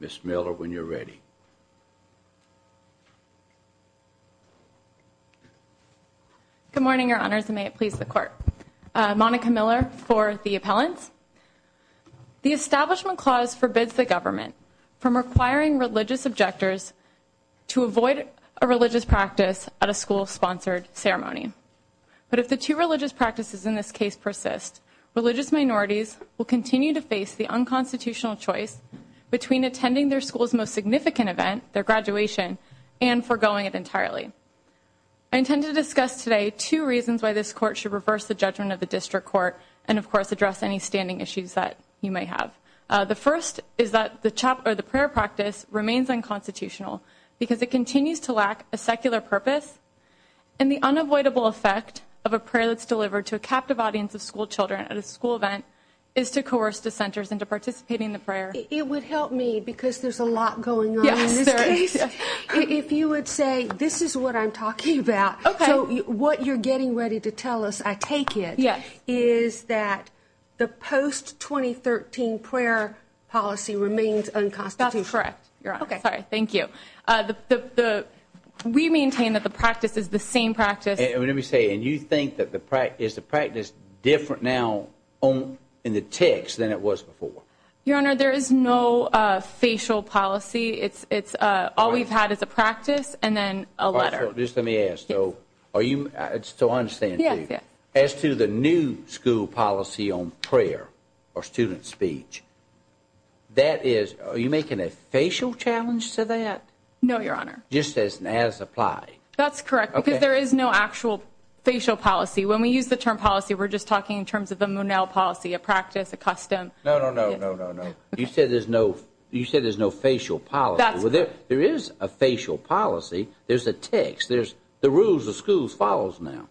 Ms. Miller, when you're ready. Good morning, your honors, and may it please the court. Monica Miller for the appellants. The Establishment Clause forbids the government from requiring religious objectors to be present to avoid a religious practice at a school-sponsored ceremony. But if the two religious practices in this case persist, religious minorities will continue to face the unconstitutional choice between attending their school's most significant event, their graduation, and forgoing it entirely. I intend to discuss today two reasons why this court should reverse the judgment of the District Court and, of course, address any standing issues that you may have. The first is that the prayer practice remains unconstitutional because it continues to lack a secular purpose, and the unavoidable effect of a prayer that's delivered to a captive audience of schoolchildren at a school event is to coerce dissenters into participating in the prayer. It would help me, because there's a lot going on in this case, if you would say this is what I'm talking about. Okay. So what you're getting ready to tell us, I take it, is that the post-2013 prayer policy remains unconstitutional. That's correct, Your Honor. Okay. Sorry, thank you. We maintain that the practice is the same practice. Let me say, and you think that the practice, is the practice different now in the text than it was before? Your Honor, there is no facial policy. It's all we've had is a practice and then a letter. Just let me ask, though. So I understand, too. Yes, yes. As to the new school policy on prayer or student speech, that is, are you making a facial challenge to that? No, Your Honor. Just as applied? That's correct, because there is no actual facial policy. When we use the term policy, we're just talking in terms of the Monell policy, a practice, a custom. No, no, no, no, no, no. You said there's no facial policy. That's correct. There is a facial policy. There's a text. The rules of schools follows now.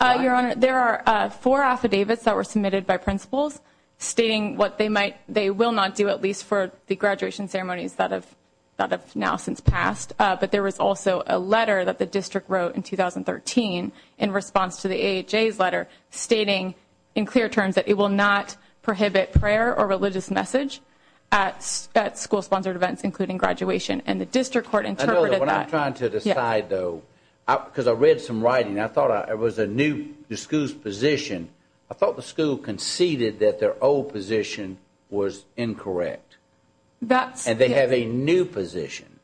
Your Honor, there are four affidavits that were submitted by principals stating what they will not do, at least for the graduation ceremonies that have now since passed. But there was also a letter that the district wrote in 2013 in response to the AHA's letter stating in clear terms that it will not prohibit prayer or religious message at school-sponsored events, including graduation. And the district court interpreted that. When I'm trying to decide, though, because I read some writing, I thought it was a new school's position. I thought the school conceded that their old position was incorrect. And they have a new position.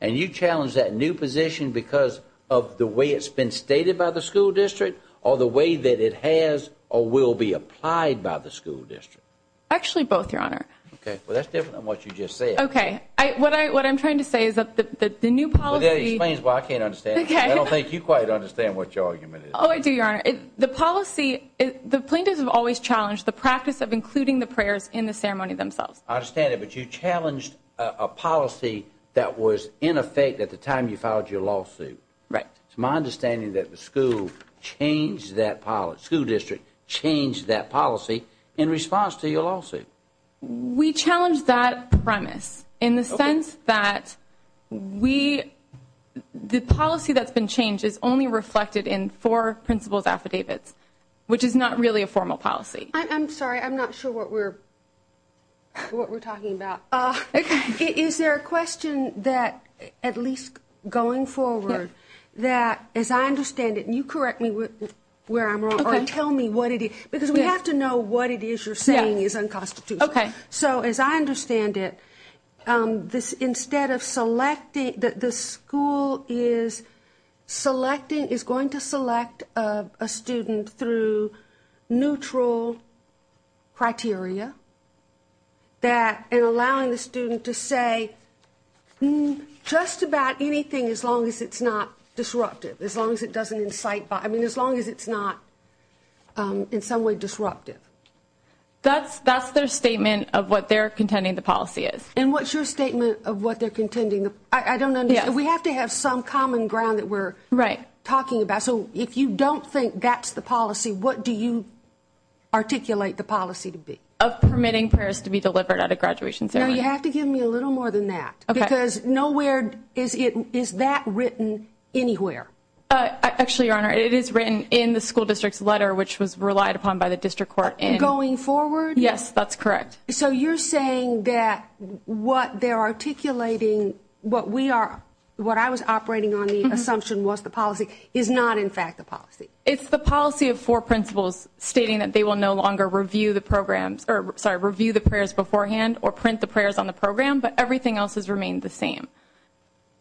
And you challenge that new position because of the way it's been stated by the school district or the way that it has or will be applied by the school district? Actually, both, Your Honor. Okay. Well, that's different than what you just said. Okay. What I'm trying to say is that the new policy— Well, that explains why I can't understand it. Okay. I don't think you quite understand what your argument is. Oh, I do, Your Honor. The policy—the plaintiffs have always challenged the practice of including the prayers in the ceremony themselves. I understand it, but you challenged a policy that was in effect at the time you filed your lawsuit. Right. It's my understanding that the school changed that—the school district changed that policy in response to your lawsuit. We challenged that premise in the sense that we—the policy that's been changed is only reflected in four principal's affidavits, which is not really a formal policy. I'm sorry. I'm not sure what we're talking about. Okay. Is there a question that, at least going forward, that, as I understand it—and you correct me where I'm wrong, or tell me what it is, because we have to know what it is you're saying is unconstitutional. Okay. So, as I understand it, this—instead of selecting—the school is selecting—is going to select a student through neutral criteria that—and allowing the student to say just about anything as long as it's not disruptive, as long as it doesn't incite— I mean, as long as it's not in some way disruptive. That's their statement of what they're contending the policy is. And what's your statement of what they're contending? I don't understand. Yes. We have to have some common ground that we're talking about. Right. So, if you don't think that's the policy, what do you articulate the policy to be? Of permitting prayers to be delivered at a graduation ceremony. No, you have to give me a little more than that. Okay. Because nowhere is it—is that written anywhere? Actually, Your Honor, it is written in the school district's letter, which was relied upon by the district court in— Going forward? Yes, that's correct. So, you're saying that what they're articulating, what we are—what I was operating on the assumption was the policy, is not, in fact, the policy? It's the policy of four principals stating that they will no longer review the programs—or, sorry, review the prayers beforehand or print the prayers on the program, but everything else has remained the same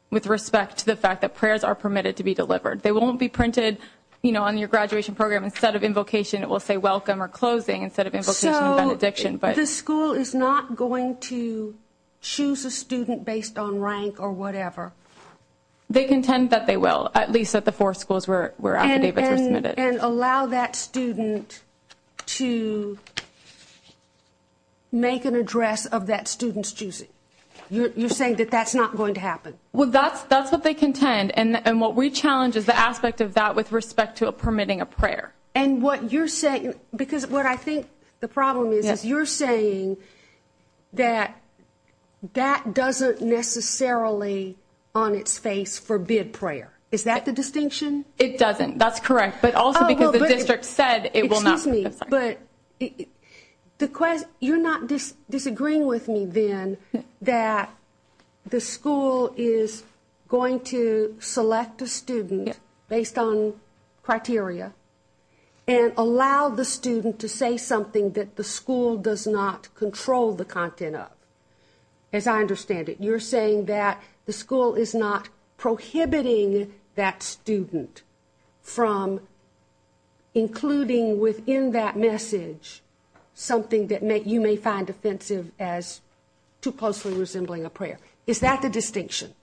with respect to the fact that prayers are permitted to be delivered. They won't be printed, you know, on your graduation program. Instead of invocation, it will say welcome or closing instead of invocation and benediction. So, the school is not going to choose a student based on rank or whatever? They contend that they will, at least at the four schools where affidavits are submitted. And allow that student to make an address of that student's choosing. You're saying that that's not going to happen? Well, that's what they contend, and what we challenge is the aspect of that with respect to permitting a prayer. And what you're saying—because what I think the problem is, is you're saying that that doesn't necessarily, on its face, forbid prayer. Is that the distinction? It doesn't. That's correct, but also because the district said it will not. Excuse me, but you're not disagreeing with me, then, that the school is going to select a student based on criteria and allow the student to say something that the school does not control the content of? As I understand it, you're saying that the school is not prohibiting that student from including within that message something that you may find offensive as too closely resembling a prayer. Is that the distinction?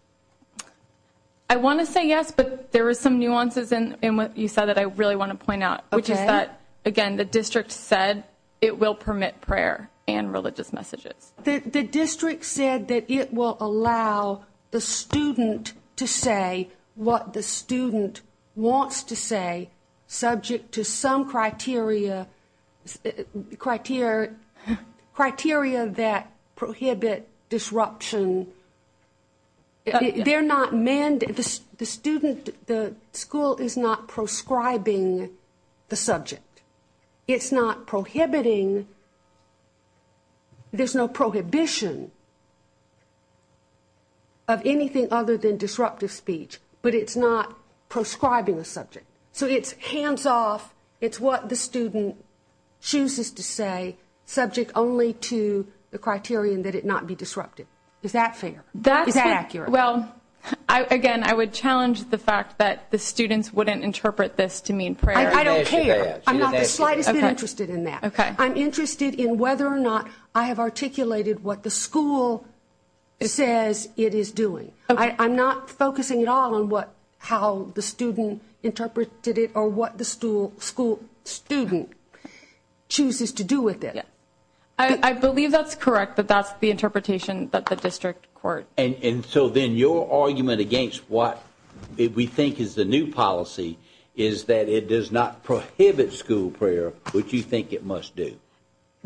I want to say yes, but there are some nuances in what you said that I really want to point out, which is that, again, the district said it will permit prayer and religious messages. The district said that it will allow the student to say what the student wants to say, subject to some criteria that prohibit disruption. They're not—the student, the school, is not proscribing the subject. It's not prohibiting—there's no prohibition of anything other than disruptive speech, but it's not proscribing the subject. So it's hands-off, it's what the student chooses to say, subject only to the criterion that it not be disruptive. Is that fair? Is that accurate? Well, again, I would challenge the fact that the students wouldn't interpret this to mean prayer. I don't care. I'm not the slightest bit interested in that. I'm interested in whether or not I have articulated what the school says it is doing. I'm not focusing at all on how the student interpreted it or what the school student chooses to do with it. I believe that's correct, that that's the interpretation that the district court— And so then your argument against what we think is the new policy is that it does not prohibit school prayer, which you think it must do.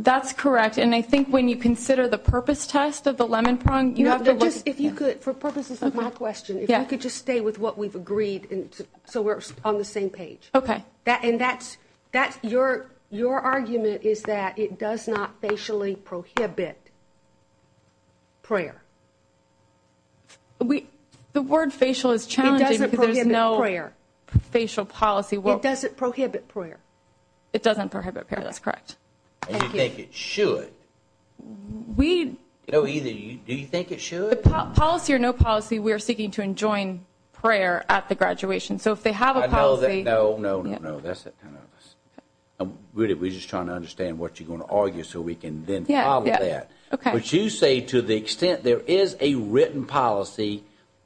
That's correct, and I think when you consider the purpose test of the lemon prong, you have to— If you could, for purposes of my question, if you could just stay with what we've agreed so we're on the same page. Okay. And that's—your argument is that it does not facially prohibit prayer. The word facial is challenging because there's no facial policy. It doesn't prohibit prayer. It doesn't prohibit prayer, that's correct. And you think it should. We— No, either. Do you think it should? Policy or no policy, we're seeking to enjoin prayer at the graduation. So if they have a policy— No, no, no, no, that's it. Really, we're just trying to understand what you're going to argue so we can then follow that. But you say to the extent there is a written policy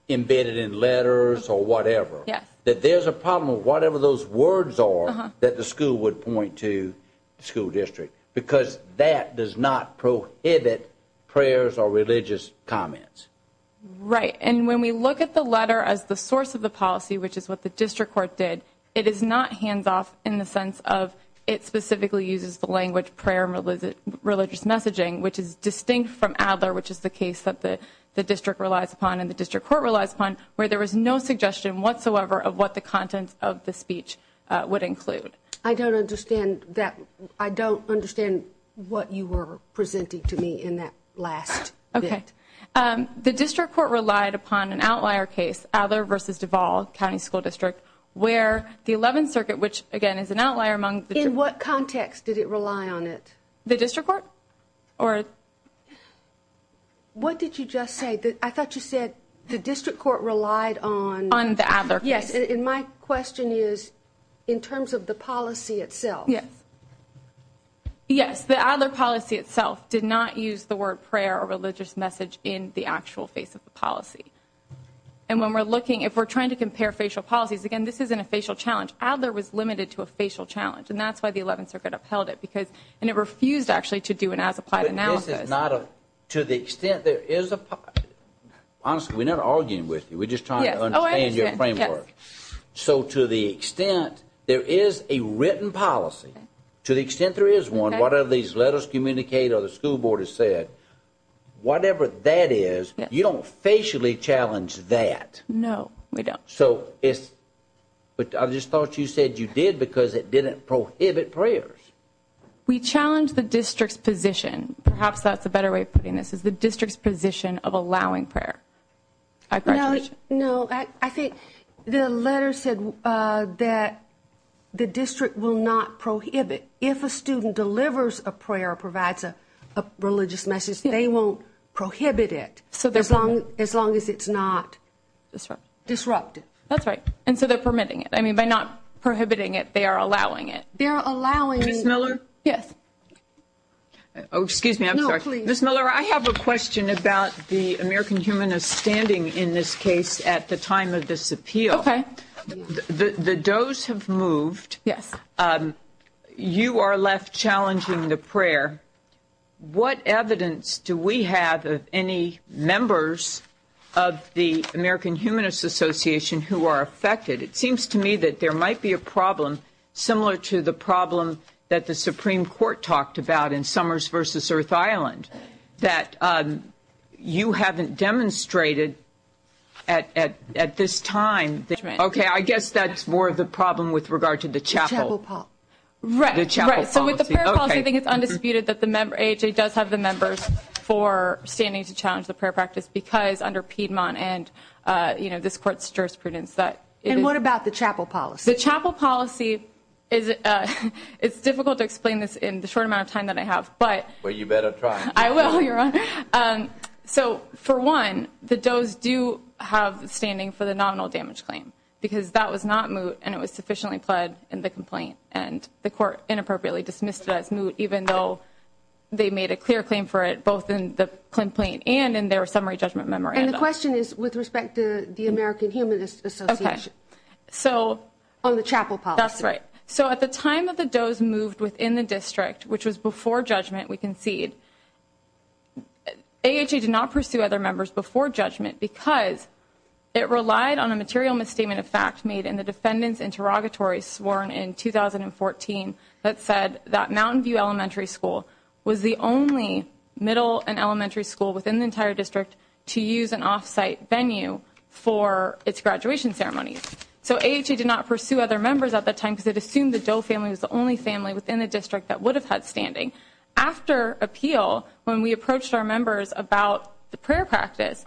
embedded in letters or whatever, that there's a problem with whatever those words are that the school would point to the school district because that does not prohibit prayers or religious comments. Right. And when we look at the letter as the source of the policy, which is what the district court did, it is not hands-off in the sense of it specifically uses the language prayer and religious messaging, which is distinct from Adler, which is the case that the district relies upon and the district court relies upon, where there was no suggestion whatsoever of what the contents of the speech would include. I don't understand that—I don't understand what you were presenting to me in that last bit. Okay. The district court relied upon an outlier case, Adler v. Duval County School District, where the 11th Circuit, which, again, is an outlier among— In what context did it rely on it? The district court? What did you just say? I thought you said the district court relied on— On the Adler case. Yes, and my question is in terms of the policy itself. Yes. Yes, the Adler policy itself did not use the word prayer or religious message in the actual face of the policy. And when we're looking—if we're trying to compare facial policies, again, this isn't a facial challenge. Adler was limited to a facial challenge, and that's why the 11th Circuit upheld it, because—and it refused, actually, to do an as-applied analysis. But this is not a—to the extent there is a—honestly, we're not arguing with you. Yes, oh, I understand. So to the extent there is a written policy, to the extent there is one, whatever these letters communicate or the school board has said, whatever that is, you don't facially challenge that. No, we don't. So it's—but I just thought you said you did because it didn't prohibit prayers. We challenge the district's position. Perhaps that's a better way of putting this, is the district's position of allowing prayer. Congratulations. No, I think the letter said that the district will not prohibit. If a student delivers a prayer or provides a religious message, they won't prohibit it, as long as it's not disruptive. That's right. And so they're permitting it. I mean, by not prohibiting it, they are allowing it. They are allowing it. Ms. Miller? Yes. Oh, excuse me. I'm sorry. No, please. Ms. Miller, I have a question about the American Humanist standing in this case at the time of this appeal. Okay. The does have moved. Yes. You are left challenging the prayer. What evidence do we have of any members of the American Humanist Association who are affected? It seems to me that there might be a problem similar to the problem that the Supreme Court talked about in Summers v. Earth Island, that you haven't demonstrated at this time. Okay. I guess that's more of the problem with regard to the chapel. The chapel policy. Right. The chapel policy. Okay. So with the prayer policy, I think it's undisputed that the AHA does have the members for standing to challenge the prayer practice because under Piedmont and, you know, this Court's jurisprudence that it is. And what about the chapel policy? The chapel policy is difficult to explain this in the short amount of time that I have, but. Well, you better try. I will. You're right. So for one, the does do have standing for the nominal damage claim because that was not moot and it was sufficiently pled in the complaint and the Court inappropriately dismissed it as moot even though they made a clear claim for it both in the complaint and in their summary judgment memorandum. And the question is with respect to the American Humanist Association. Okay. So. On the chapel policy. That's right. So at the time that the does moved within the district, which was before judgment we conceded, AHA did not pursue other members before judgment because it relied on a material misstatement of fact made in the defendant's interrogatory sworn in 2014 that said that Mountain View Elementary School was the only middle and elementary school within the entire district to use an off-site venue for its graduation ceremony. So AHA did not pursue other members at that time because it assumed the Doe family was the only family within the district that would have had standing. After appeal, when we approached our members about the prayer practice,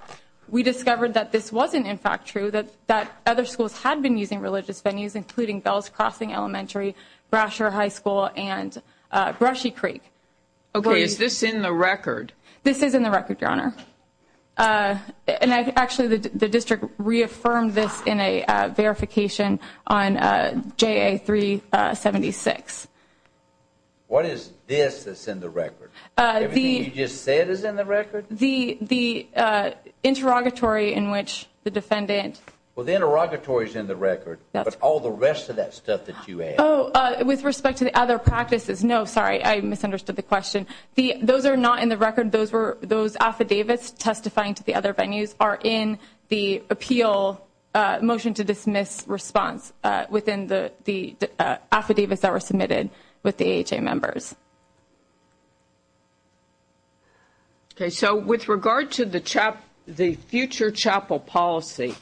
we discovered that this wasn't in fact true, that other schools had been using religious venues, including Bell's Crossing Elementary, Brasher High School, and Brushy Creek. Okay. Is this in the record? This is in the record, Your Honor. And actually the district reaffirmed this in a verification on JA 376. What is this that's in the record? Everything you just said is in the record? The interrogatory in which the defendant. Well, the interrogatory is in the record. But all the rest of that stuff that you add. Oh, with respect to the other practices, no, sorry, I misunderstood the question. Those are not in the record. Those affidavits testifying to the other venues are in the appeal motion to dismiss response within the affidavits that were submitted with the AHA members. Okay, so with regard to the future chapel policy,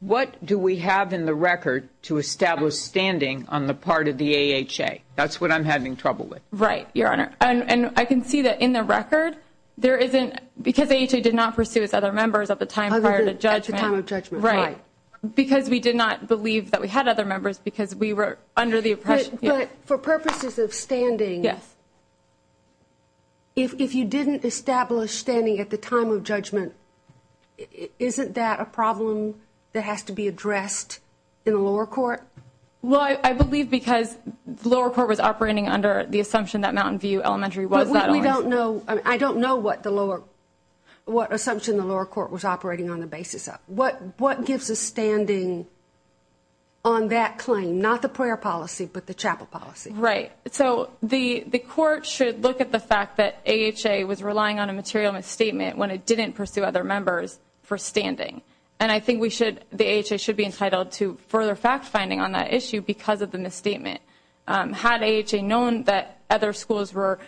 what do we have in the record to establish standing on the part of the AHA? That's what I'm having trouble with. Right, Your Honor. And I can see that in the record there isn't, because AHA did not pursue its other members at the time prior to judgment. At the time of judgment, right. Because we did not believe that we had other members because we were under the oppression. But for purposes of standing, if you didn't establish standing at the time of judgment, isn't that a problem that has to be addressed in the lower court? Well, I believe because the lower court was operating under the assumption that Mountain View Elementary was that always. But we don't know, I don't know what the lower, what assumption the lower court was operating on the basis of. What gives a standing on that claim? Not the prayer policy, but the chapel policy. Right. So the court should look at the fact that AHA was relying on a material misstatement when it didn't pursue other members for standing. And I think the AHA should be entitled to further fact-finding on that issue because of the misstatement. Had AHA known that other schools were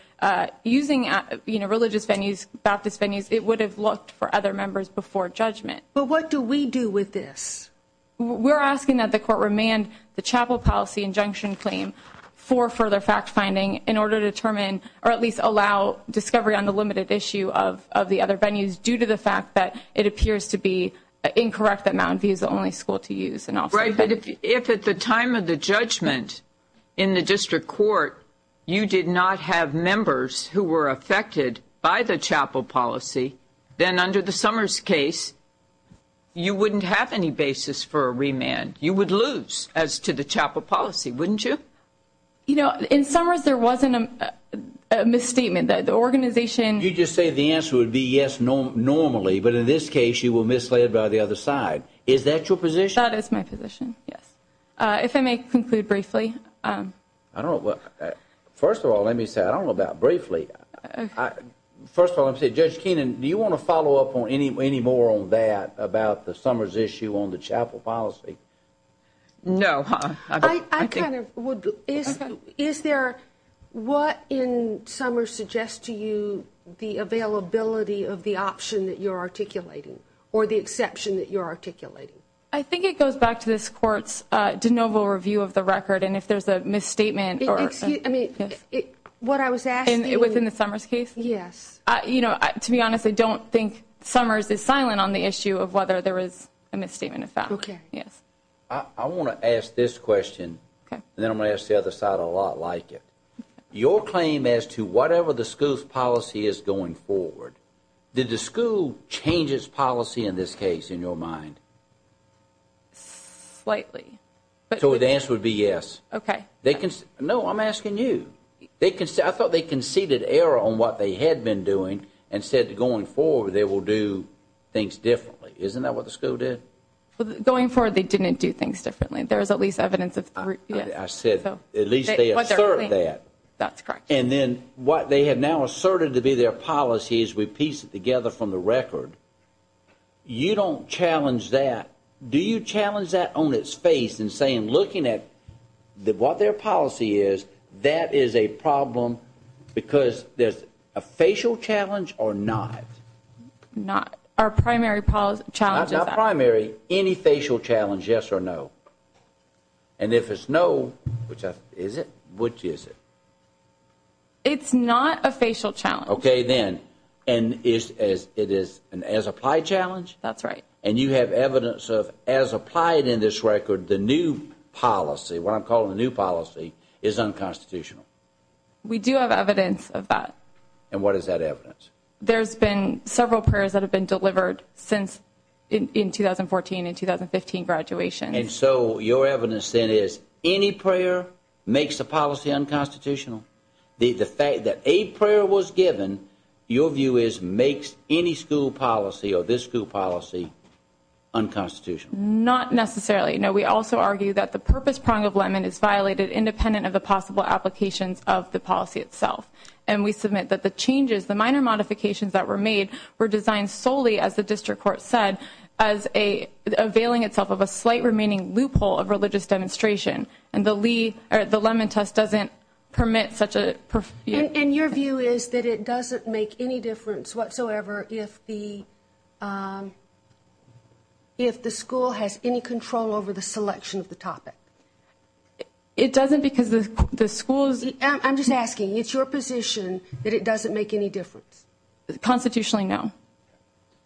using religious venues, Baptist venues, it would have looked for other members before judgment. But what do we do with this? We're asking that the court remand the chapel policy injunction claim for further fact-finding in order to determine, or at least allow discovery on the limited issue of the other venues due to the fact that it appears to be incorrect that Mountain View is the only school to use. Right. But if at the time of the judgment in the district court you did not have members who were affected by the chapel policy, then under the Summers case, you wouldn't have any basis for a remand. You would lose as to the chapel policy, wouldn't you? You know, in Summers there wasn't a misstatement. The organization You just say the answer would be yes normally, but in this case you were misled by the other side. Is that your position? That is my position, yes. If I may conclude briefly. First of all, let me say, I don't know about briefly. First of all, Judge Keenan, do you want to follow up any more on that about the Summers issue on the chapel policy? No. I kind of would. Is there what in Summers suggests to you the availability of the option that you're articulating or the exception that you're articulating? I think it goes back to this court's de novo review of the record, and if there's a misstatement or what I was asking. Within the Summers case? Yes. You know, to be honest, I don't think Summers is silent on the issue of whether there is a misstatement of that. Okay. Yes. I want to ask this question, and then I'm going to ask the other side a lot like it. Your claim as to whatever the school's policy is going forward, did the school change its policy in this case in your mind? Slightly. So the answer would be yes. Okay. No, I'm asking you. I thought they conceded error on what they had been doing and said going forward they will do things differently. Isn't that what the school did? Going forward they didn't do things differently. There is at least evidence of that. I said at least they assert that. That's correct. And then what they have now asserted to be their policy is we piece it together from the record. You don't challenge that. Do you challenge that on its face in saying looking at what their policy is, that is a problem because there's a facial challenge or not? Not. Our primary challenge is that. Not primary. Any facial challenge, yes or no? And if it's no, is it? Which is it? It's not a facial challenge. Okay, then. And it is an as-applied challenge? That's right. And you have evidence of as applied in this record the new policy, what I'm calling the new policy, is unconstitutional? We do have evidence of that. And what is that evidence? There's been several prayers that have been delivered since in 2014 and 2015 graduation. And so your evidence then is any prayer makes a policy unconstitutional? The fact that a prayer was given, your view is, makes any school policy or this school policy unconstitutional? Not necessarily. No, we also argue that the purpose prong of LEMON is violated independent of the possible applications of the policy itself. And we submit that the changes, the minor modifications that were made, were designed solely, as the district court said, as availing itself of a slight remaining loophole of religious demonstration. And the LEMON test doesn't permit such a... And your view is that it doesn't make any difference whatsoever if the school has any control over the selection of the topic? It doesn't because the school's... I'm just asking. It's your position that it doesn't make any difference? Constitutionally, no.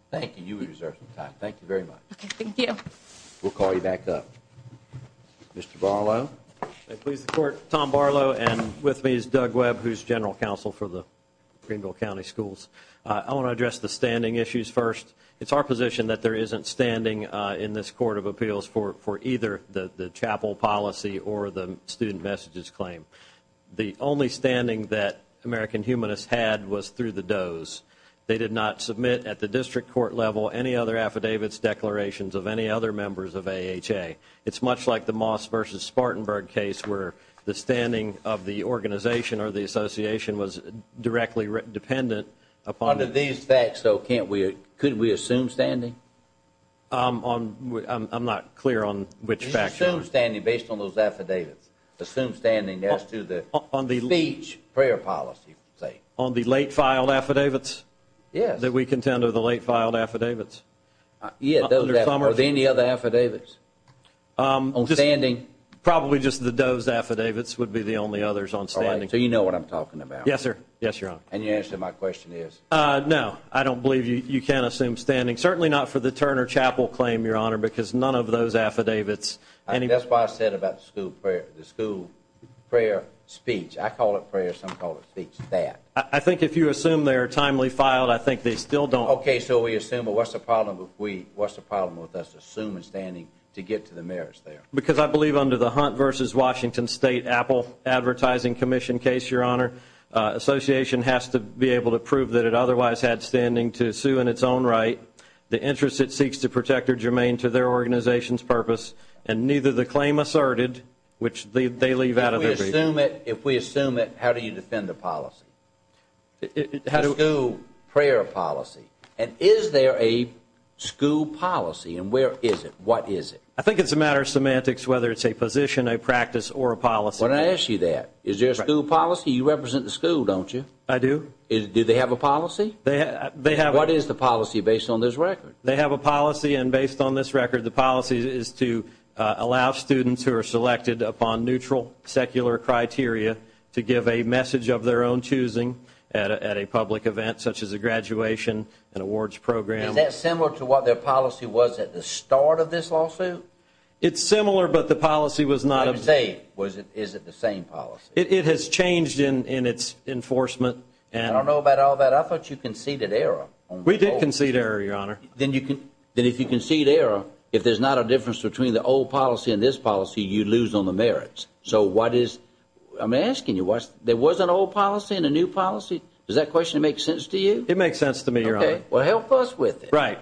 Thank you. You have reserved some time. Thank you very much. Thank you. We'll call you back up. Mr. Barlow. Please, the Court. Tom Barlow, and with me is Doug Webb, who's General Counsel for the Greenville County Schools. I want to address the standing issues first. It's our position that there isn't standing in this Court of Appeals for either the chapel policy or the student messages claim. The only standing that American Humanist had was through the does. They did not submit at the district court level any other affidavits, declarations of any other members of AHA. It's much like the Moss v. Spartanburg case where the standing of the organization or the association was directly dependent... Under these facts, though, couldn't we assume standing? I'm not clear on which facts. You can assume standing based on those affidavits. Assume standing as to the speech, prayer policy, say. On the late-filed affidavits? Yes. Did we contend with the late-filed affidavits? Yes, those affidavits. Or any other affidavits on standing? Probably just the does affidavits would be the only others on standing. All right. So you know what I'm talking about. Yes, sir. Yes, Your Honor. And your answer to my question is? No. I don't believe you can assume standing. Certainly not for the Turner Chapel claim, Your Honor, because none of those affidavits... That's why I said about the school prayer speech. I call it prayer. Some call it speech. That. I think if you assume they're timely filed, I think they still don't. Okay. So we assume. But what's the problem with us assuming standing to get to the merits there? Because I believe under the Hunt v. Washington State Apple Advertising Commission case, Your Honor, association has to be able to prove that it otherwise had standing to sue in its own right the interest it seeks to protect or germane to their organization's purpose and neither the claim asserted, which they leave out of their brief. If we assume it, how do you defend the policy, the school prayer policy? And is there a school policy? And where is it? What is it? I think it's a matter of semantics whether it's a position, a practice, or a policy. Why don't I ask you that? Is there a school policy? You represent the school, don't you? I do. Do they have a policy? They have. What is the policy based on this record? They have a policy, and based on this record, the policy is to allow students who are selected upon neutral secular criteria to give a message of their own choosing at a public event such as a graduation and awards program. Is that similar to what their policy was at the start of this lawsuit? It's similar, but the policy was not of the same. Is it the same policy? It has changed in its enforcement. I don't know about all that. I thought you conceded error. We did concede error, Your Honor. Then if you concede error, if there's not a difference between the old policy and this policy, you lose on the merits. So what is – I'm asking you, there was an old policy and a new policy? Does that question make sense to you? It makes sense to me, Your Honor. Okay. Well, help us with it. Right.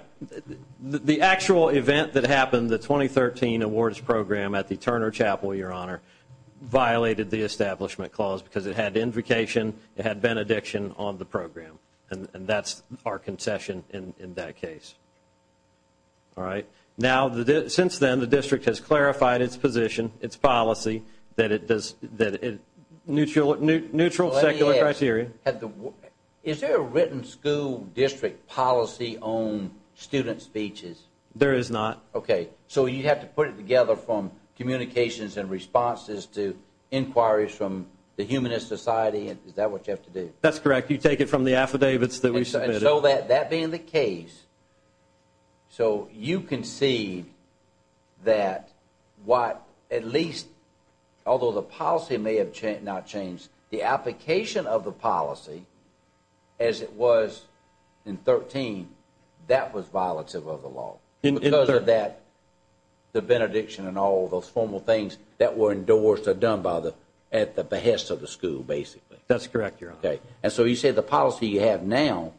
The actual event that happened, the 2013 awards program at the Turner Chapel, Your Honor, violated the Establishment Clause because it had invocation, it had benediction on the program, and that's our concession in that case. All right. Now, since then, the district has clarified its position, its policy, that it does – neutral secular criteria. Is there a written school district policy on student speeches? There is not. Okay. So you have to put it together from communications and responses to inquiries from the humanist society? Is that what you have to do? That's correct. You take it from the affidavits that we submitted? And so that being the case, so you concede that what at least – although the policy may have not changed, the application of the policy as it was in 2013, that was violative of the law. Because of that, the benediction and all those formal things that were endorsed are done by the – at the behest of the school, basically. That's correct, Your Honor. Okay. And so you say the policy you have now,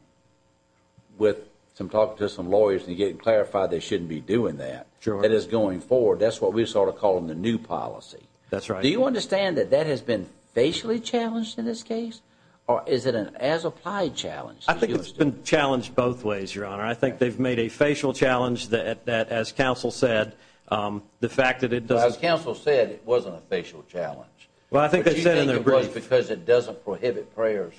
with some talking to some lawyers and getting clarified they shouldn't be doing that, that is going forward, that's what we sort of call the new policy. That's right. Do you understand that that has been facially challenged in this case? Or is it an as-applied challenge? I think it's been challenged both ways, Your Honor. I think they've made a facial challenge that, as counsel said, the fact that it doesn't – As counsel said, it wasn't a facial challenge. Well, I think they said in their brief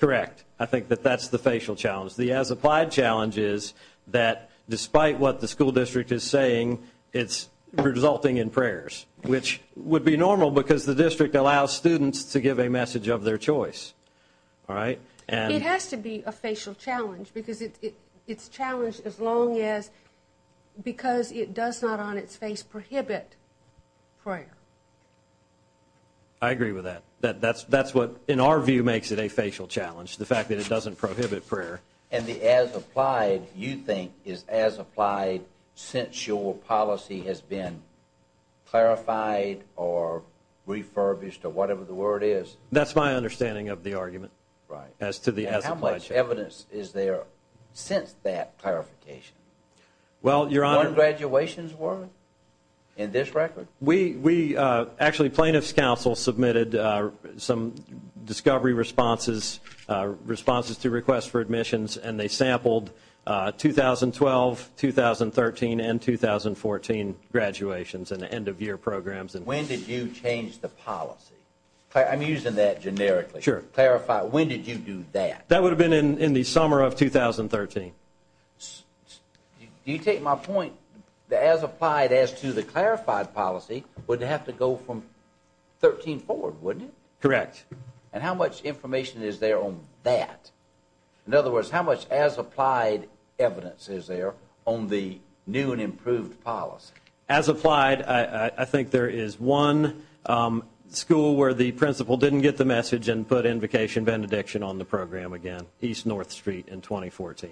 – Correct. I think that that's the facial challenge. The as-applied challenge is that despite what the school district is saying, it's resulting in prayers, which would be normal because the district allows students to give a message of their choice. All right? It has to be a facial challenge because it's challenged as long as – because it does not on its face prohibit prayer. I agree with that. That's what, in our view, makes it a facial challenge, the fact that it doesn't prohibit prayer. And the as-applied, you think, is as-applied since your policy has been clarified or refurbished or whatever the word is? That's my understanding of the argument as to the as-applied challenge. How much evidence is there since that clarification? Well, Your Honor – One graduation's worth in this record? We – actually plaintiff's counsel submitted some discovery responses, responses to requests for admissions, and they sampled 2012, 2013, and 2014 graduations and end-of-year programs. When did you change the policy? I'm using that generically. Sure. Clarify. When did you do that? That would have been in the summer of 2013. Do you take my point that as-applied as to the clarified policy would have to go from 2013 forward, wouldn't it? Correct. And how much information is there on that? In other words, how much as-applied evidence is there on the new and improved policy? As-applied, I think there is one school where the principal didn't get the message and put invocation benediction on the program again, East North Street in 2014.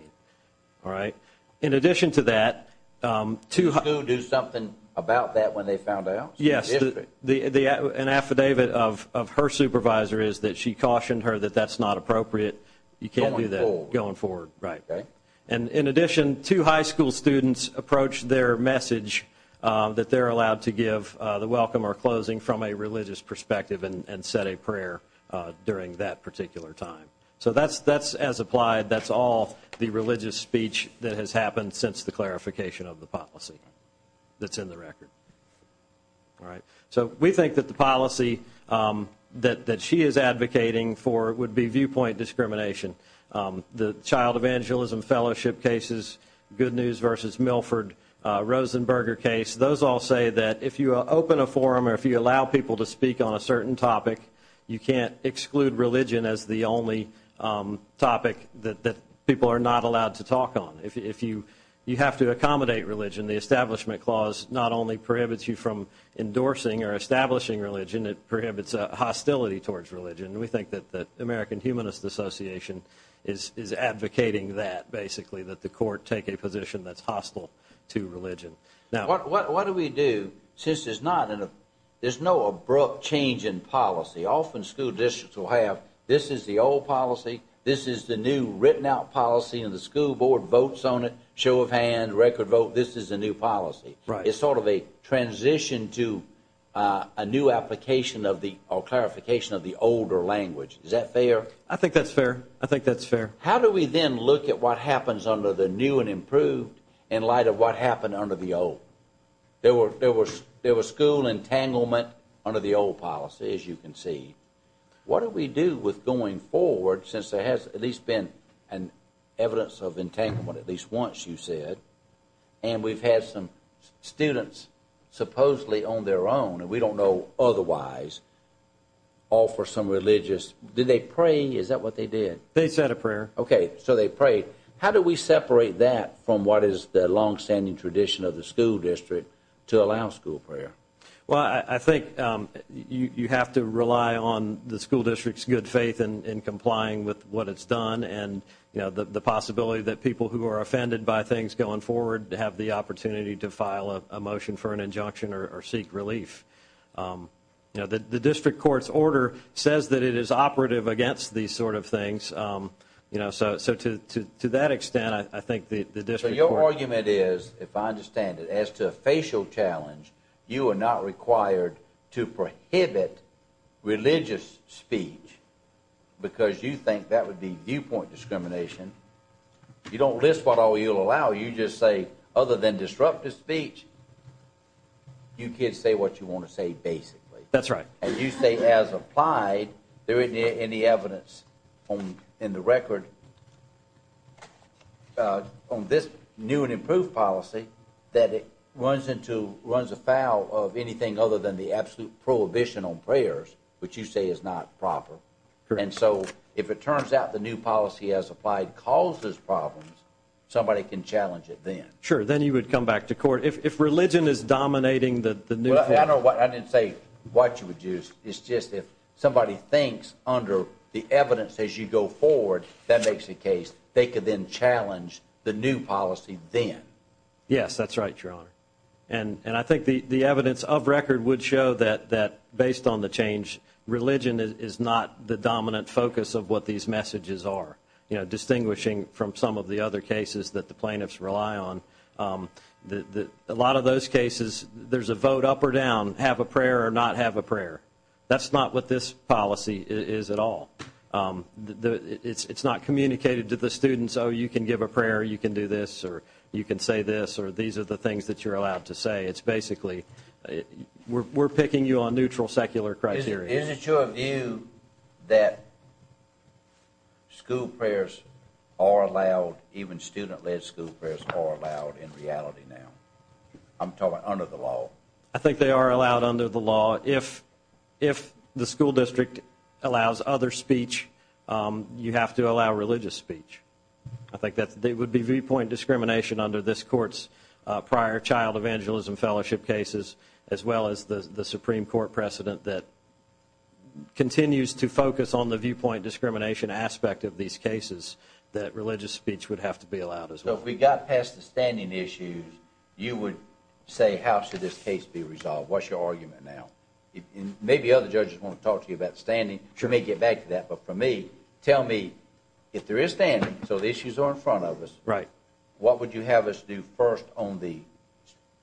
All right? In addition to that, two – Did the school do something about that when they found out? Yes. An affidavit of her supervisor is that she cautioned her that that's not appropriate. You can't do that. Going forward. Going forward, right. Okay. And in addition, two high school students approached their message that they're allowed to give the welcome or closing from a religious perspective and said a prayer during that particular time. So that's as-applied. That's all the religious speech that has happened since the clarification of the policy that's in the record. All right? So we think that the policy that she is advocating for would be viewpoint discrimination. The Child Evangelism Fellowship cases, Good News v. Milford, Rosenberger case, those all say that if you open a forum or if you allow people to speak on a certain topic, you can't exclude religion as the only topic that people are not allowed to talk on. If you have to accommodate religion, the Establishment Clause not only prohibits you from endorsing or establishing religion, it prohibits hostility towards religion. And we think that the American Humanist Association is advocating that, basically, that the court take a position that's hostile to religion. What do we do since there's no abrupt change in policy? Often school districts will have this is the old policy, this is the new written-out policy, and the school board votes on it, show of hands, record vote, this is the new policy. It's sort of a transition to a new application or clarification of the older language. Is that fair? I think that's fair. I think that's fair. How do we then look at what happens under the new and improved in light of what happened under the old? There was school entanglement under the old policy, as you can see. What do we do with going forward since there has at least been an evidence of entanglement, at least once you said, and we've had some students supposedly on their own, and we don't know otherwise, offer some religious, did they pray? Is that what they did? They said a prayer. Okay, so they prayed. How do we separate that from what is the longstanding tradition of the school district to allow school prayer? Well, I think you have to rely on the school district's good faith in complying with what it's done and the possibility that people who are offended by things going forward have the opportunity to file a motion for an injunction or seek relief. The district court's order says that it is operative against these sort of things. So to that extent, I think the district court... So your argument is, if I understand it, as to a facial challenge, you are not required to prohibit religious speech because you think that would be viewpoint discrimination. You don't list what all you'll allow. You just say, other than disruptive speech, you kids say what you want to say, basically. That's right. And you say, as applied, there isn't any evidence in the record on this new and improved policy that it runs afoul of anything other than the absolute prohibition on prayers, which you say is not proper. And so if it turns out the new policy as applied causes problems, somebody can challenge it then. Sure, then you would come back to court. If religion is dominating the new... I didn't say what you would use. It's just if somebody thinks, under the evidence as you go forward, that makes a case, they could then challenge the new policy then. Yes, that's right, Your Honor. And I think the evidence of record would show that, based on the change, religion is not the dominant focus of what these messages are, distinguishing from some of the other cases that the plaintiffs rely on. A lot of those cases, there's a vote up or down, have a prayer or not have a prayer. That's not what this policy is at all. It's not communicated to the students, oh, you can give a prayer, you can do this, or you can say this, or these are the things that you're allowed to say. It's basically we're picking you on neutral secular criteria. Isn't your view that school prayers are allowed, even student-led school prayers are allowed in reality now? I'm talking under the law. I think they are allowed under the law. If the school district allows other speech, you have to allow religious speech. I think that would be viewpoint discrimination under this Court's prior child evangelism fellowship cases, as well as the Supreme Court precedent that continues to focus on the viewpoint discrimination aspect of these cases, that religious speech would have to be allowed as well. So if we got past the standing issues, you would say, how should this case be resolved? What's your argument now? Maybe other judges want to talk to you about standing. But for me, tell me, if there is standing, so the issues are in front of us, what would you have us do first on the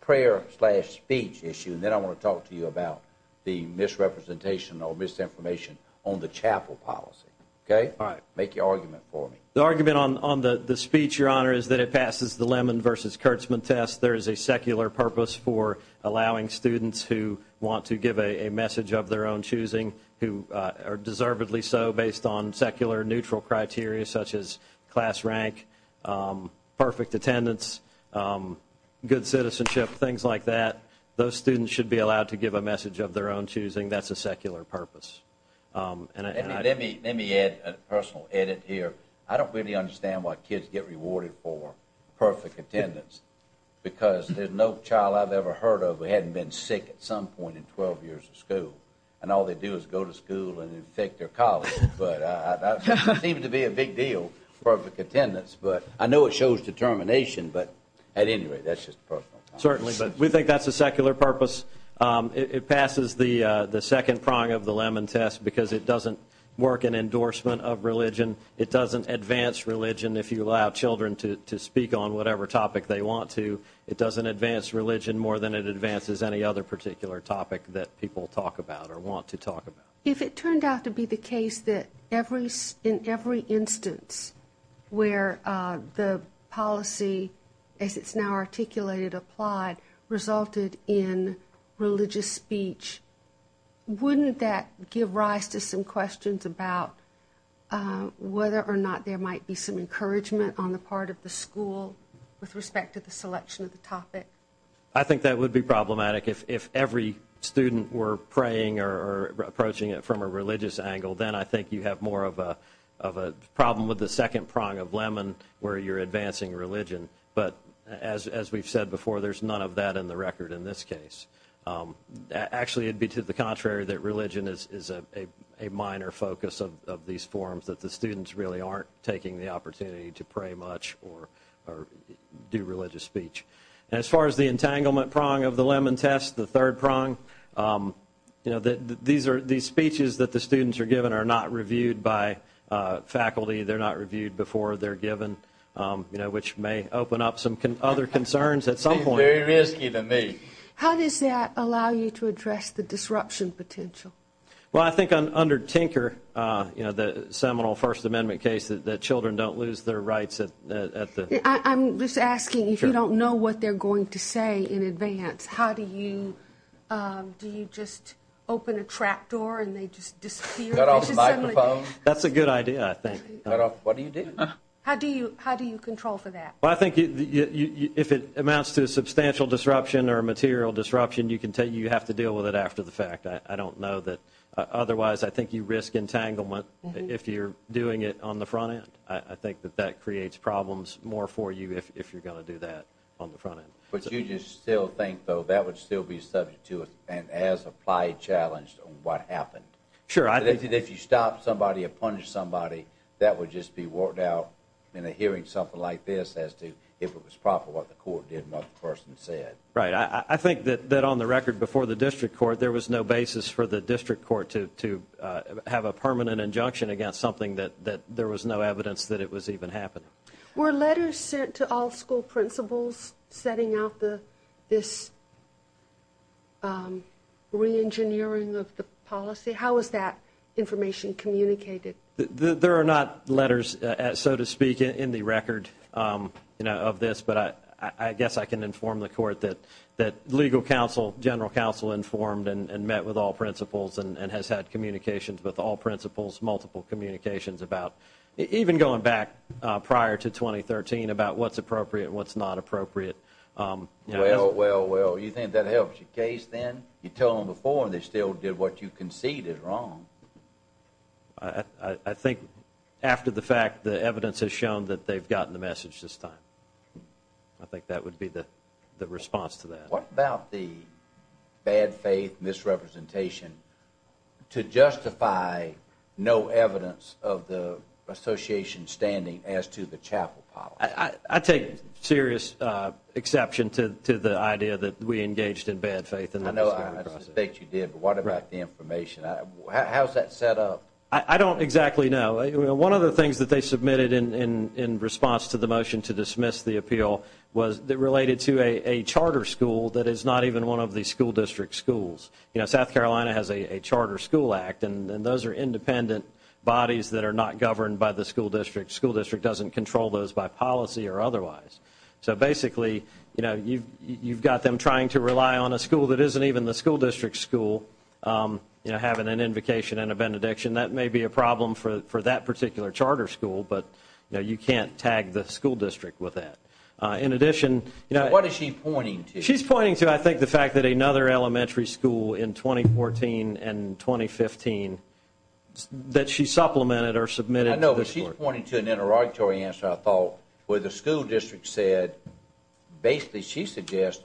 prayer-slash-speech issue, and then I want to talk to you about the misrepresentation or misinformation on the chapel policy. Make your argument for me. The argument on the speech, Your Honor, is that it passes the Lemon v. Kurtzman test. There is a secular purpose for allowing students who want to give a message of their own choosing, who are deservedly so based on secular, neutral criteria such as class rank, perfect attendance, good citizenship, things like that, those students should be allowed to give a message of their own choosing. That's a secular purpose. Let me add a personal edit here. I don't really understand why kids get rewarded for perfect attendance because there's no child I've ever heard of who hadn't been sick at some point in 12 years of school, and all they do is go to school and infect their college. But it seems to be a big deal, perfect attendance. But I know it shows determination, but at any rate, that's just a personal comment. Certainly, but we think that's a secular purpose. It passes the second prong of the Lemon test because it doesn't work in endorsement of religion. It doesn't advance religion if you allow children to speak on whatever topic they want to. It doesn't advance religion more than it advances any other particular topic that people talk about or want to talk about. If it turned out to be the case that in every instance where the policy, as it's now articulated, applied, resulted in religious speech, wouldn't that give rise to some questions about whether or not there might be some encouragement on the part of the school with respect to the selection of the topic? I think that would be problematic. If every student were praying or approaching it from a religious angle, then I think you have more of a problem with the second prong of Lemon where you're advancing religion. But as we've said before, there's none of that in the record in this case. Actually, it would be to the contrary that religion is a minor focus of these forums, that the students really aren't taking the opportunity to pray much or do religious speech. And as far as the entanglement prong of the Lemon test, the third prong, these speeches that the students are given are not reviewed by faculty. They're not reviewed before they're given, which may open up some other concerns at some point. Seems very risky to me. How does that allow you to address the disruption potential? Well, I think under Tinker, the seminal First Amendment case, that children don't lose their rights. I'm just asking if you don't know what they're going to say in advance, how do you just open a trap door and they just disappear? That's a good idea, I think. What do you do? How do you control for that? Well, I think if it amounts to a substantial disruption or a material disruption, you have to deal with it after the fact. I don't know that. Otherwise, I think you risk entanglement if you're doing it on the front end. I think that that creates problems more for you if you're going to do that on the front end. But you just still think, though, that would still be subject to and as applied challenge to what happened? Sure. That if you stop somebody or punish somebody, that would just be walked out in a hearing something like this as to if it was proper, what the court did and what the person said. Right. I think that on the record before the district court, there was no basis for the district court to have a permanent injunction against something that there was no evidence that it was even happening. Were letters sent to all school principals setting out this reengineering of the policy? How was that information communicated? There are not letters, so to speak, in the record of this. But I guess I can inform the court that legal counsel, general counsel, informed and met with all principals and has had communications with all principals, multiple communications about even going back prior to 2013 about what's appropriate and what's not appropriate. Well, well, well, you think that helps your case then? You tell them before and they still did what you conceded wrong. I think after the fact, the evidence has shown that they've gotten the message this time. I think that would be the response to that. What about the bad faith misrepresentation to justify no evidence of the association standing as to the chapel policy? I take serious exception to the idea that we engaged in bad faith in the discovery process. I know I suspect you did, but what about the information? How is that set up? I don't exactly know. One of the things that they submitted in response to the motion to dismiss the appeal was related to a charter school that is not even one of the school district schools. You know, South Carolina has a Charter School Act, and those are independent bodies that are not governed by the school district. The school district doesn't control those by policy or otherwise. So basically, you know, you've got them trying to rely on a school that isn't even the school district school, you know, having an invocation and a benediction. That may be a problem for that particular charter school, but, you know, you can't tag the school district with that. In addition, you know, What is she pointing to? She's pointing to, I think, the fact that another elementary school in 2014 and 2015 that she supplemented or submitted. I know, but she's pointing to an interrogatory answer, I thought, where the school district said basically she suggests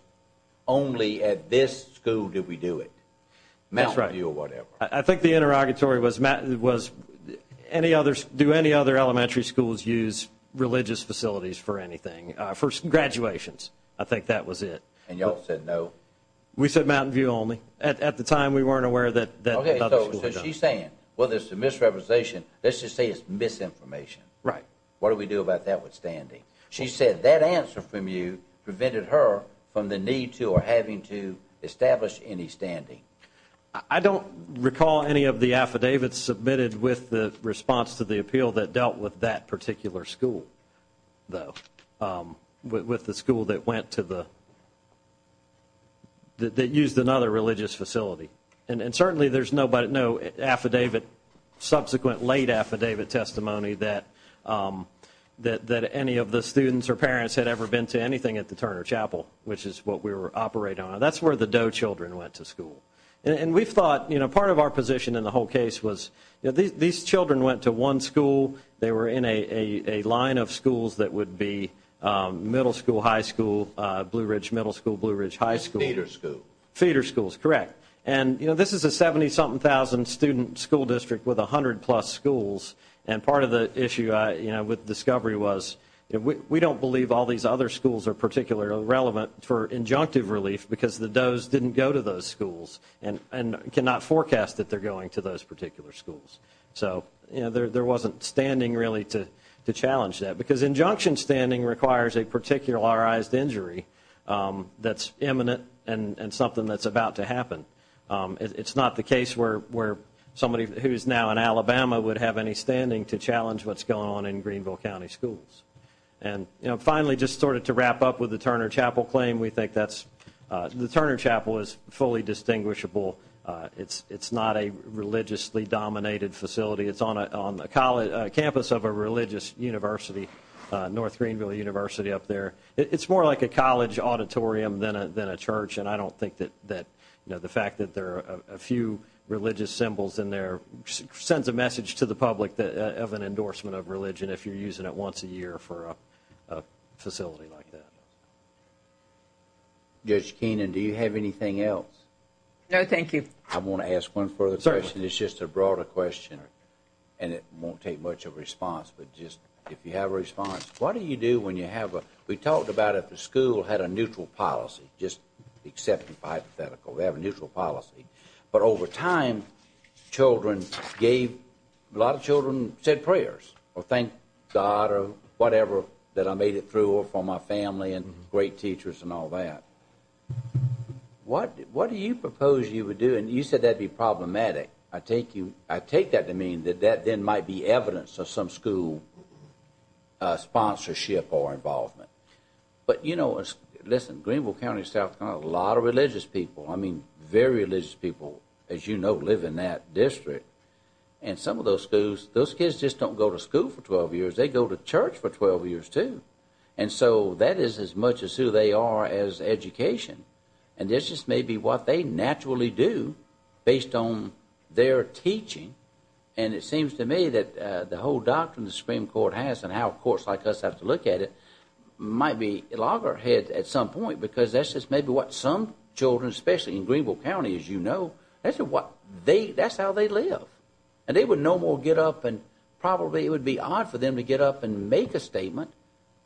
only at this school do we do it, Mountain View or whatever. That's right. I think the interrogatory was do any other elementary schools use religious facilities for anything? For graduations, I think that was it. And y'all said no? We said Mountain View only. At the time, we weren't aware that another school had done it. Okay, so she's saying, well, there's a misrepresentation. Let's just say it's misinformation. Right. What do we do about that with standing? She said that answer from you prevented her from the need to or having to establish any standing. I don't recall any of the affidavits submitted with the response to the appeal that dealt with that particular school, though, with the school that went to the that used another religious facility. And certainly there's no affidavit, subsequent late affidavit testimony, that any of the students or parents had ever been to anything at the Turner Chapel, which is what we were operating on. That's where the Doe children went to school. And we thought part of our position in the whole case was these children went to one school. They were in a line of schools that would be middle school, high school, Blue Ridge Middle School, Blue Ridge High School. Theater school. Theater schools, correct. And this is a 70-something thousand student school district with 100-plus schools. And part of the issue with discovery was we don't believe all these other schools are particularly relevant for injunctive relief because the Does didn't go to those schools and cannot forecast that they're going to those particular schools. So there wasn't standing really to challenge that, because injunction standing requires a particularized injury that's imminent and something that's about to happen. It's not the case where somebody who is now in Alabama would have any standing to challenge what's going on in Greenville County schools. And finally, just sort of to wrap up with the Turner Chapel claim, we think the Turner Chapel is fully distinguishable. It's not a religiously-dominated facility. It's on the campus of a religious university, North Greenville University up there. It's more like a college auditorium than a church, and I don't think that the fact that there are a few religious symbols in there sends a message to the public of an endorsement of religion if you're using it once a year for a facility like that. Judge Keenan, do you have anything else? No, thank you. I want to ask one further question. It's just a broader question, and it won't take much of a response, but just if you have a response. What do you do when you have a—we talked about if the school had a neutral policy, just accept it hypothetically, we have a neutral policy, but over time, children gave—a lot of children said prayers or thanked God or whatever that I made it through or for my family and great teachers and all that. What do you propose you would do? And you said that would be problematic. I take that to mean that that then might be evidence of some school sponsorship or involvement. But, you know, listen, Greenville County, South Carolina, a lot of religious people, I mean very religious people, as you know, live in that district. And some of those schools, those kids just don't go to school for 12 years. They go to church for 12 years too. And so that is as much as who they are as education. And this is maybe what they naturally do based on their teaching. And it seems to me that the whole doctrine the Supreme Court has and how courts like us have to look at it might be loggerhead at some point because that's just maybe what some children, especially in Greenville County, as you know, that's how they live. And they would no more get up and probably it would be odd for them to get up and make a statement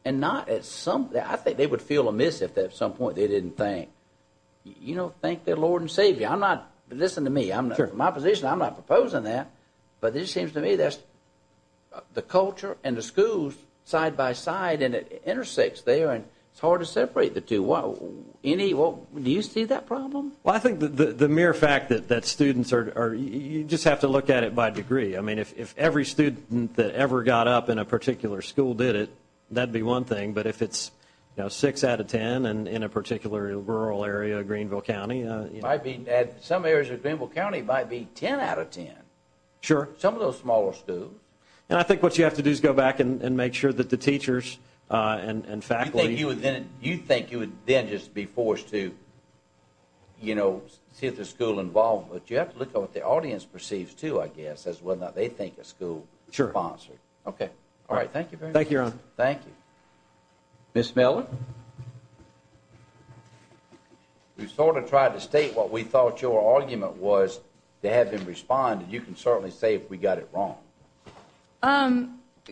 and not at some—I think they would feel amiss if at some point they didn't thank their Lord and Savior. I'm not—listen to me. From my position, I'm not proposing that. But it just seems to me that's the culture and the schools side by side and it intersects there and it's hard to separate the two. Do you see that problem? Well, I think the mere fact that students are—you just have to look at it by degree. I mean if every student that ever got up in a particular school did it, that would be one thing. But if it's six out of ten and in a particular rural area of Greenville County— some areas of Greenville County might be ten out of ten. Sure. Some of those smaller schools. And I think what you have to do is go back and make sure that the teachers and faculty— You think you would then just be forced to, you know, see if there's school involvement. You have to look at what the audience perceives too, I guess, as well as what they think of school. Sure. Okay. All right, thank you very much. Thank you, Your Honor. Thank you. Ms. Miller? We sort of tried to state what we thought your argument was to have them respond, and you can certainly say if we got it wrong.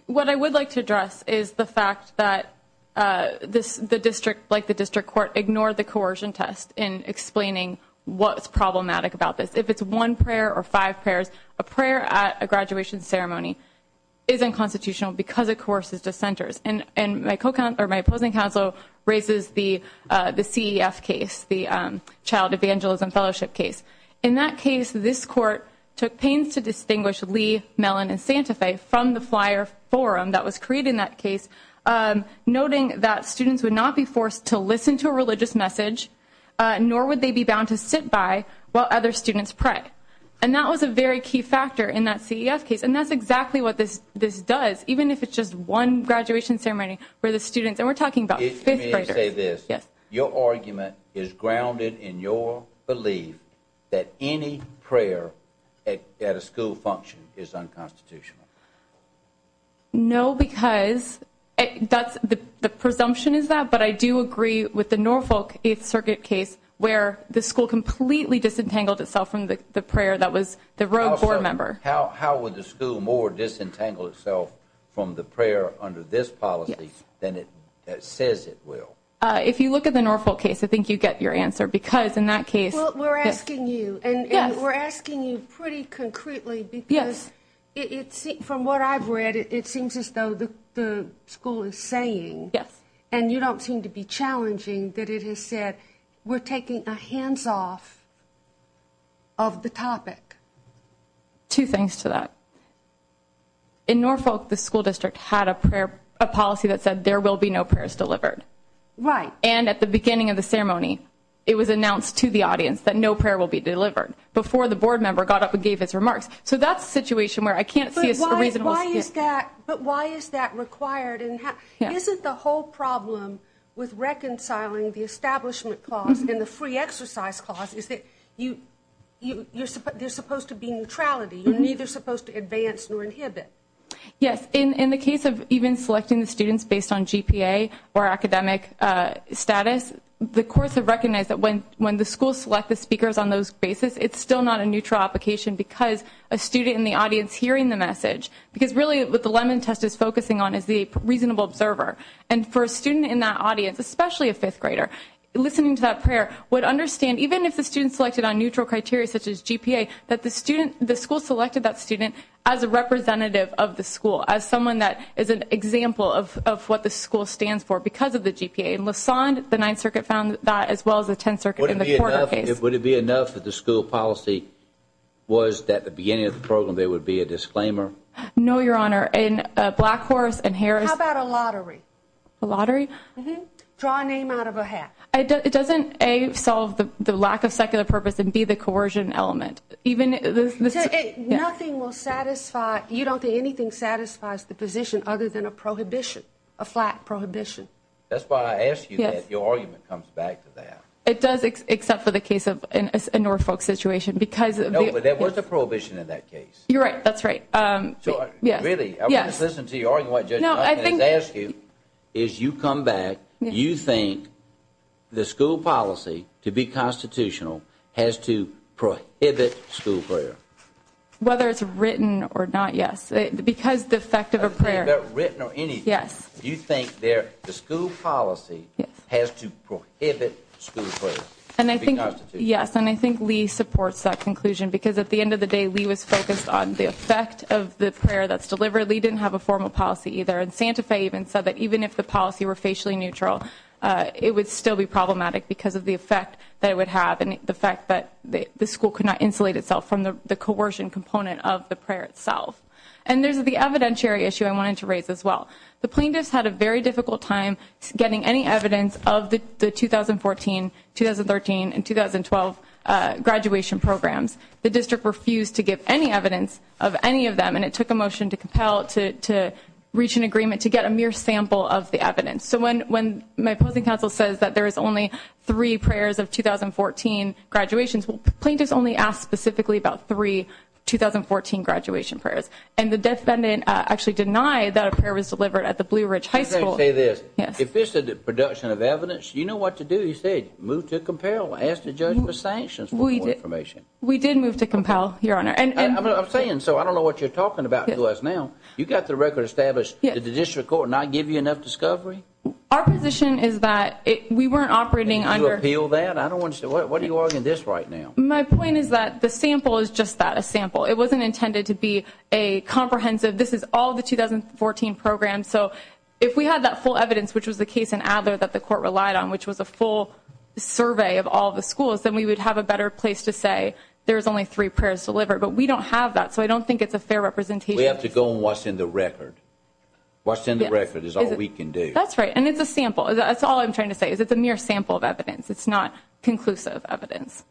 What I would like to address is the fact that the district, like the district court, ignored the coercion test in explaining what's problematic about this. If it's one prayer or five prayers, a prayer at a graduation ceremony isn't constitutional because it coerces dissenters. And my opposing counsel raises the CEF case, the Child Evangelism Fellowship case. In that case, this court took pains to distinguish Lee, Mellon, and Santa Fe from the flyer forum that was creating that case, noting that students would not be forced to listen to a religious message, nor would they be bound to sit by while other students prayed. And that was a very key factor in that CEF case. And that's exactly what this does. Even if it's just one graduation ceremony where the students, and we're talking about five prayers. Let me say this. Yes. Your argument is grounded in your belief that any prayer at a school function is unconstitutional. No, because the presumption is that, but I do agree with the Norfolk Eighth Circuit case where the school completely disentangled itself from the prayer that was the rogue board member. How would the school more disentangle itself from the prayer under this policy than it says it will? If you look at the Norfolk case, I think you get your answer because in that case. Well, we're asking you, and we're asking you pretty concretely because from what I've read, it seems as though the school is saying, and you don't seem to be challenging, that it has said we're taking a hands-off of the topic. Two things to that. In Norfolk, the school district had a policy that said there will be no prayers delivered. Right. And at the beginning of the ceremony, it was announced to the audience that no prayer will be delivered before the board member got up and gave his remarks. So that's a situation where I can't see a reasonable. But why is that required? Isn't the whole problem with reconciling the establishment clause and the free exercise clause is that there's supposed to be neutrality. You're neither supposed to advance nor inhibit. Yes. In the case of even selecting the students based on GPA or academic status, the courts have recognized that when the school selects the speakers on those basis, it's still not a neutral application because a student in the audience hearing the message. Because really what the Lemon Test is focusing on is the reasonable observer. And for a student in that audience, especially a fifth grader, listening to that prayer would understand, even if the student selected on neutral criteria such as GPA, that the school selected that student as a representative of the school, as someone that is an example of what the school stands for because of the GPA. In Lassonde, the Ninth Circuit found that as well as the Tenth Circuit in the court case. Would it be enough that the school policy was that at the beginning of the program there would be a disclaimer? No, Your Honor. In Blackhorse and Harris. How about a lottery? A lottery? Mm-hmm. Draw a name out of a hat. It doesn't, A, solve the lack of secular purpose and, B, the coercion element. Nothing will satisfy, you don't think anything satisfies the position other than a prohibition, a flat prohibition. That's why I asked you that. Yes. Your argument comes back to that. It does except for the case of Norfolk situation because. No, but there was a prohibition in that case. You're right. That's right. Yes. Really? Yes. I want to listen to you arguing what Judge Duncan is asking. No, I think. As you come back, you think the school policy to be constitutional has to prohibit school prayer. Whether it's written or not, yes. Because the effect of a prayer. Whether it's written or anything. Yes. You think the school policy has to prohibit school prayer to be constitutional. Yes, and I think Lee supports that conclusion because at the end of the day, Lee was focused on the effect of the prayer that's delivered. Lee didn't have a formal policy either. And Santa Fe even said that even if the policy were facially neutral, it would still be problematic because of the effect that it would have and the fact that the school could not insulate itself from the coercion component of the prayer itself. And there's the evidentiary issue I wanted to raise as well. The plaintiffs had a very difficult time getting any evidence of the 2014, 2013, and 2012 graduation programs. The district refused to give any evidence of any of them. And it took a motion to compel to reach an agreement to get a mere sample of the evidence. So when my opposing counsel says that there is only three prayers of 2014 graduations, well, the plaintiffs only asked specifically about three 2014 graduation prayers. And the defendant actually denied that a prayer was delivered at the Blue Ridge High School. Let me say this. Yes. If this is a production of evidence, you know what to do. You say move to compel. Ask the judge for sanctions for more information. We did move to compel, Your Honor. I'm saying so. I don't know what you're talking about to us now. You've got the record established. Did the district court not give you enough discovery? Our position is that we weren't operating under... Did you appeal that? I don't understand. What are you arguing this right now? My point is that the sample is just that, a sample. It wasn't intended to be a comprehensive, this is all the 2014 programs. So if we had that full evidence, which was the case in Adler that the court relied on, which was a full survey of all the schools, then we would have a better place to say there's only three prayers delivered. But we don't have that, so I don't think it's a fair representation. We have to go and watch in the record. Watch in the record is all we can do. That's right. And it's a sample. That's all I'm trying to say, is it's a mere sample of evidence. It's not conclusive evidence.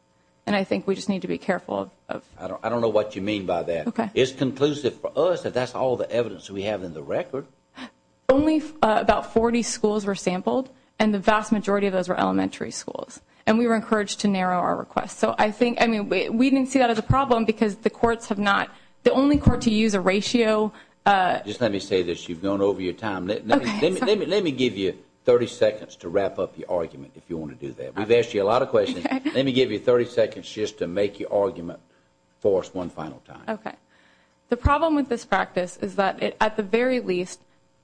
And I think we just need to be careful of... I don't know what you mean by that. It's conclusive for us that that's all the evidence we have in the record. Only about 40 schools were sampled, and the vast majority of those were elementary schools. And we were encouraged to narrow our request. So I think, I mean, we didn't see that as a problem because the courts have not, the only court to use a ratio... Just let me say this. You've gone over your time. Let me give you 30 seconds to wrap up the argument if you want to do that. We've asked you a lot of questions. Let me give you 30 seconds just to make your argument for us one final time. Okay. The problem with this practice is that it, at the very least,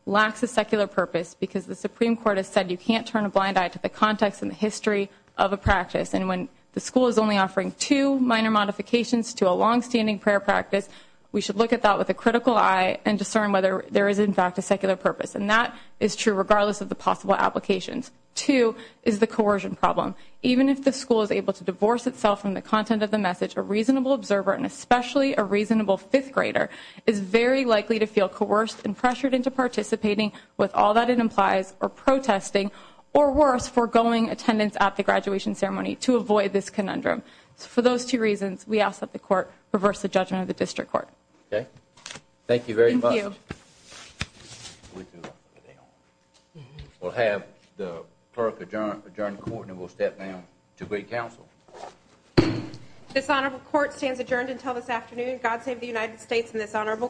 lacks a secular purpose because the Supreme Court has said you can't turn a blind eye to the context and the history of a practice. And when the school is only offering two minor modifications to a longstanding prayer practice, we should look at that with a critical eye and discern whether there is, in fact, a secular purpose. And that is true regardless of the possible applications. Two is the coercion problem. Even if the school is able to divorce itself from the content of the message, a reasonable observer, and especially a reasonable fifth grader, is very likely to feel coerced and pressured into participating with all that it implies or protesting or, worse, foregoing attendance at the graduation ceremony to avoid this conundrum. For those two reasons, we ask that the court reverse the judgment of the district court. Okay. Thank you very much. Thank you. We'll have the clerk adjourn the court and we'll step down to great counsel. This honorable court stands adjourned until this afternoon. God save the United States and this honorable court.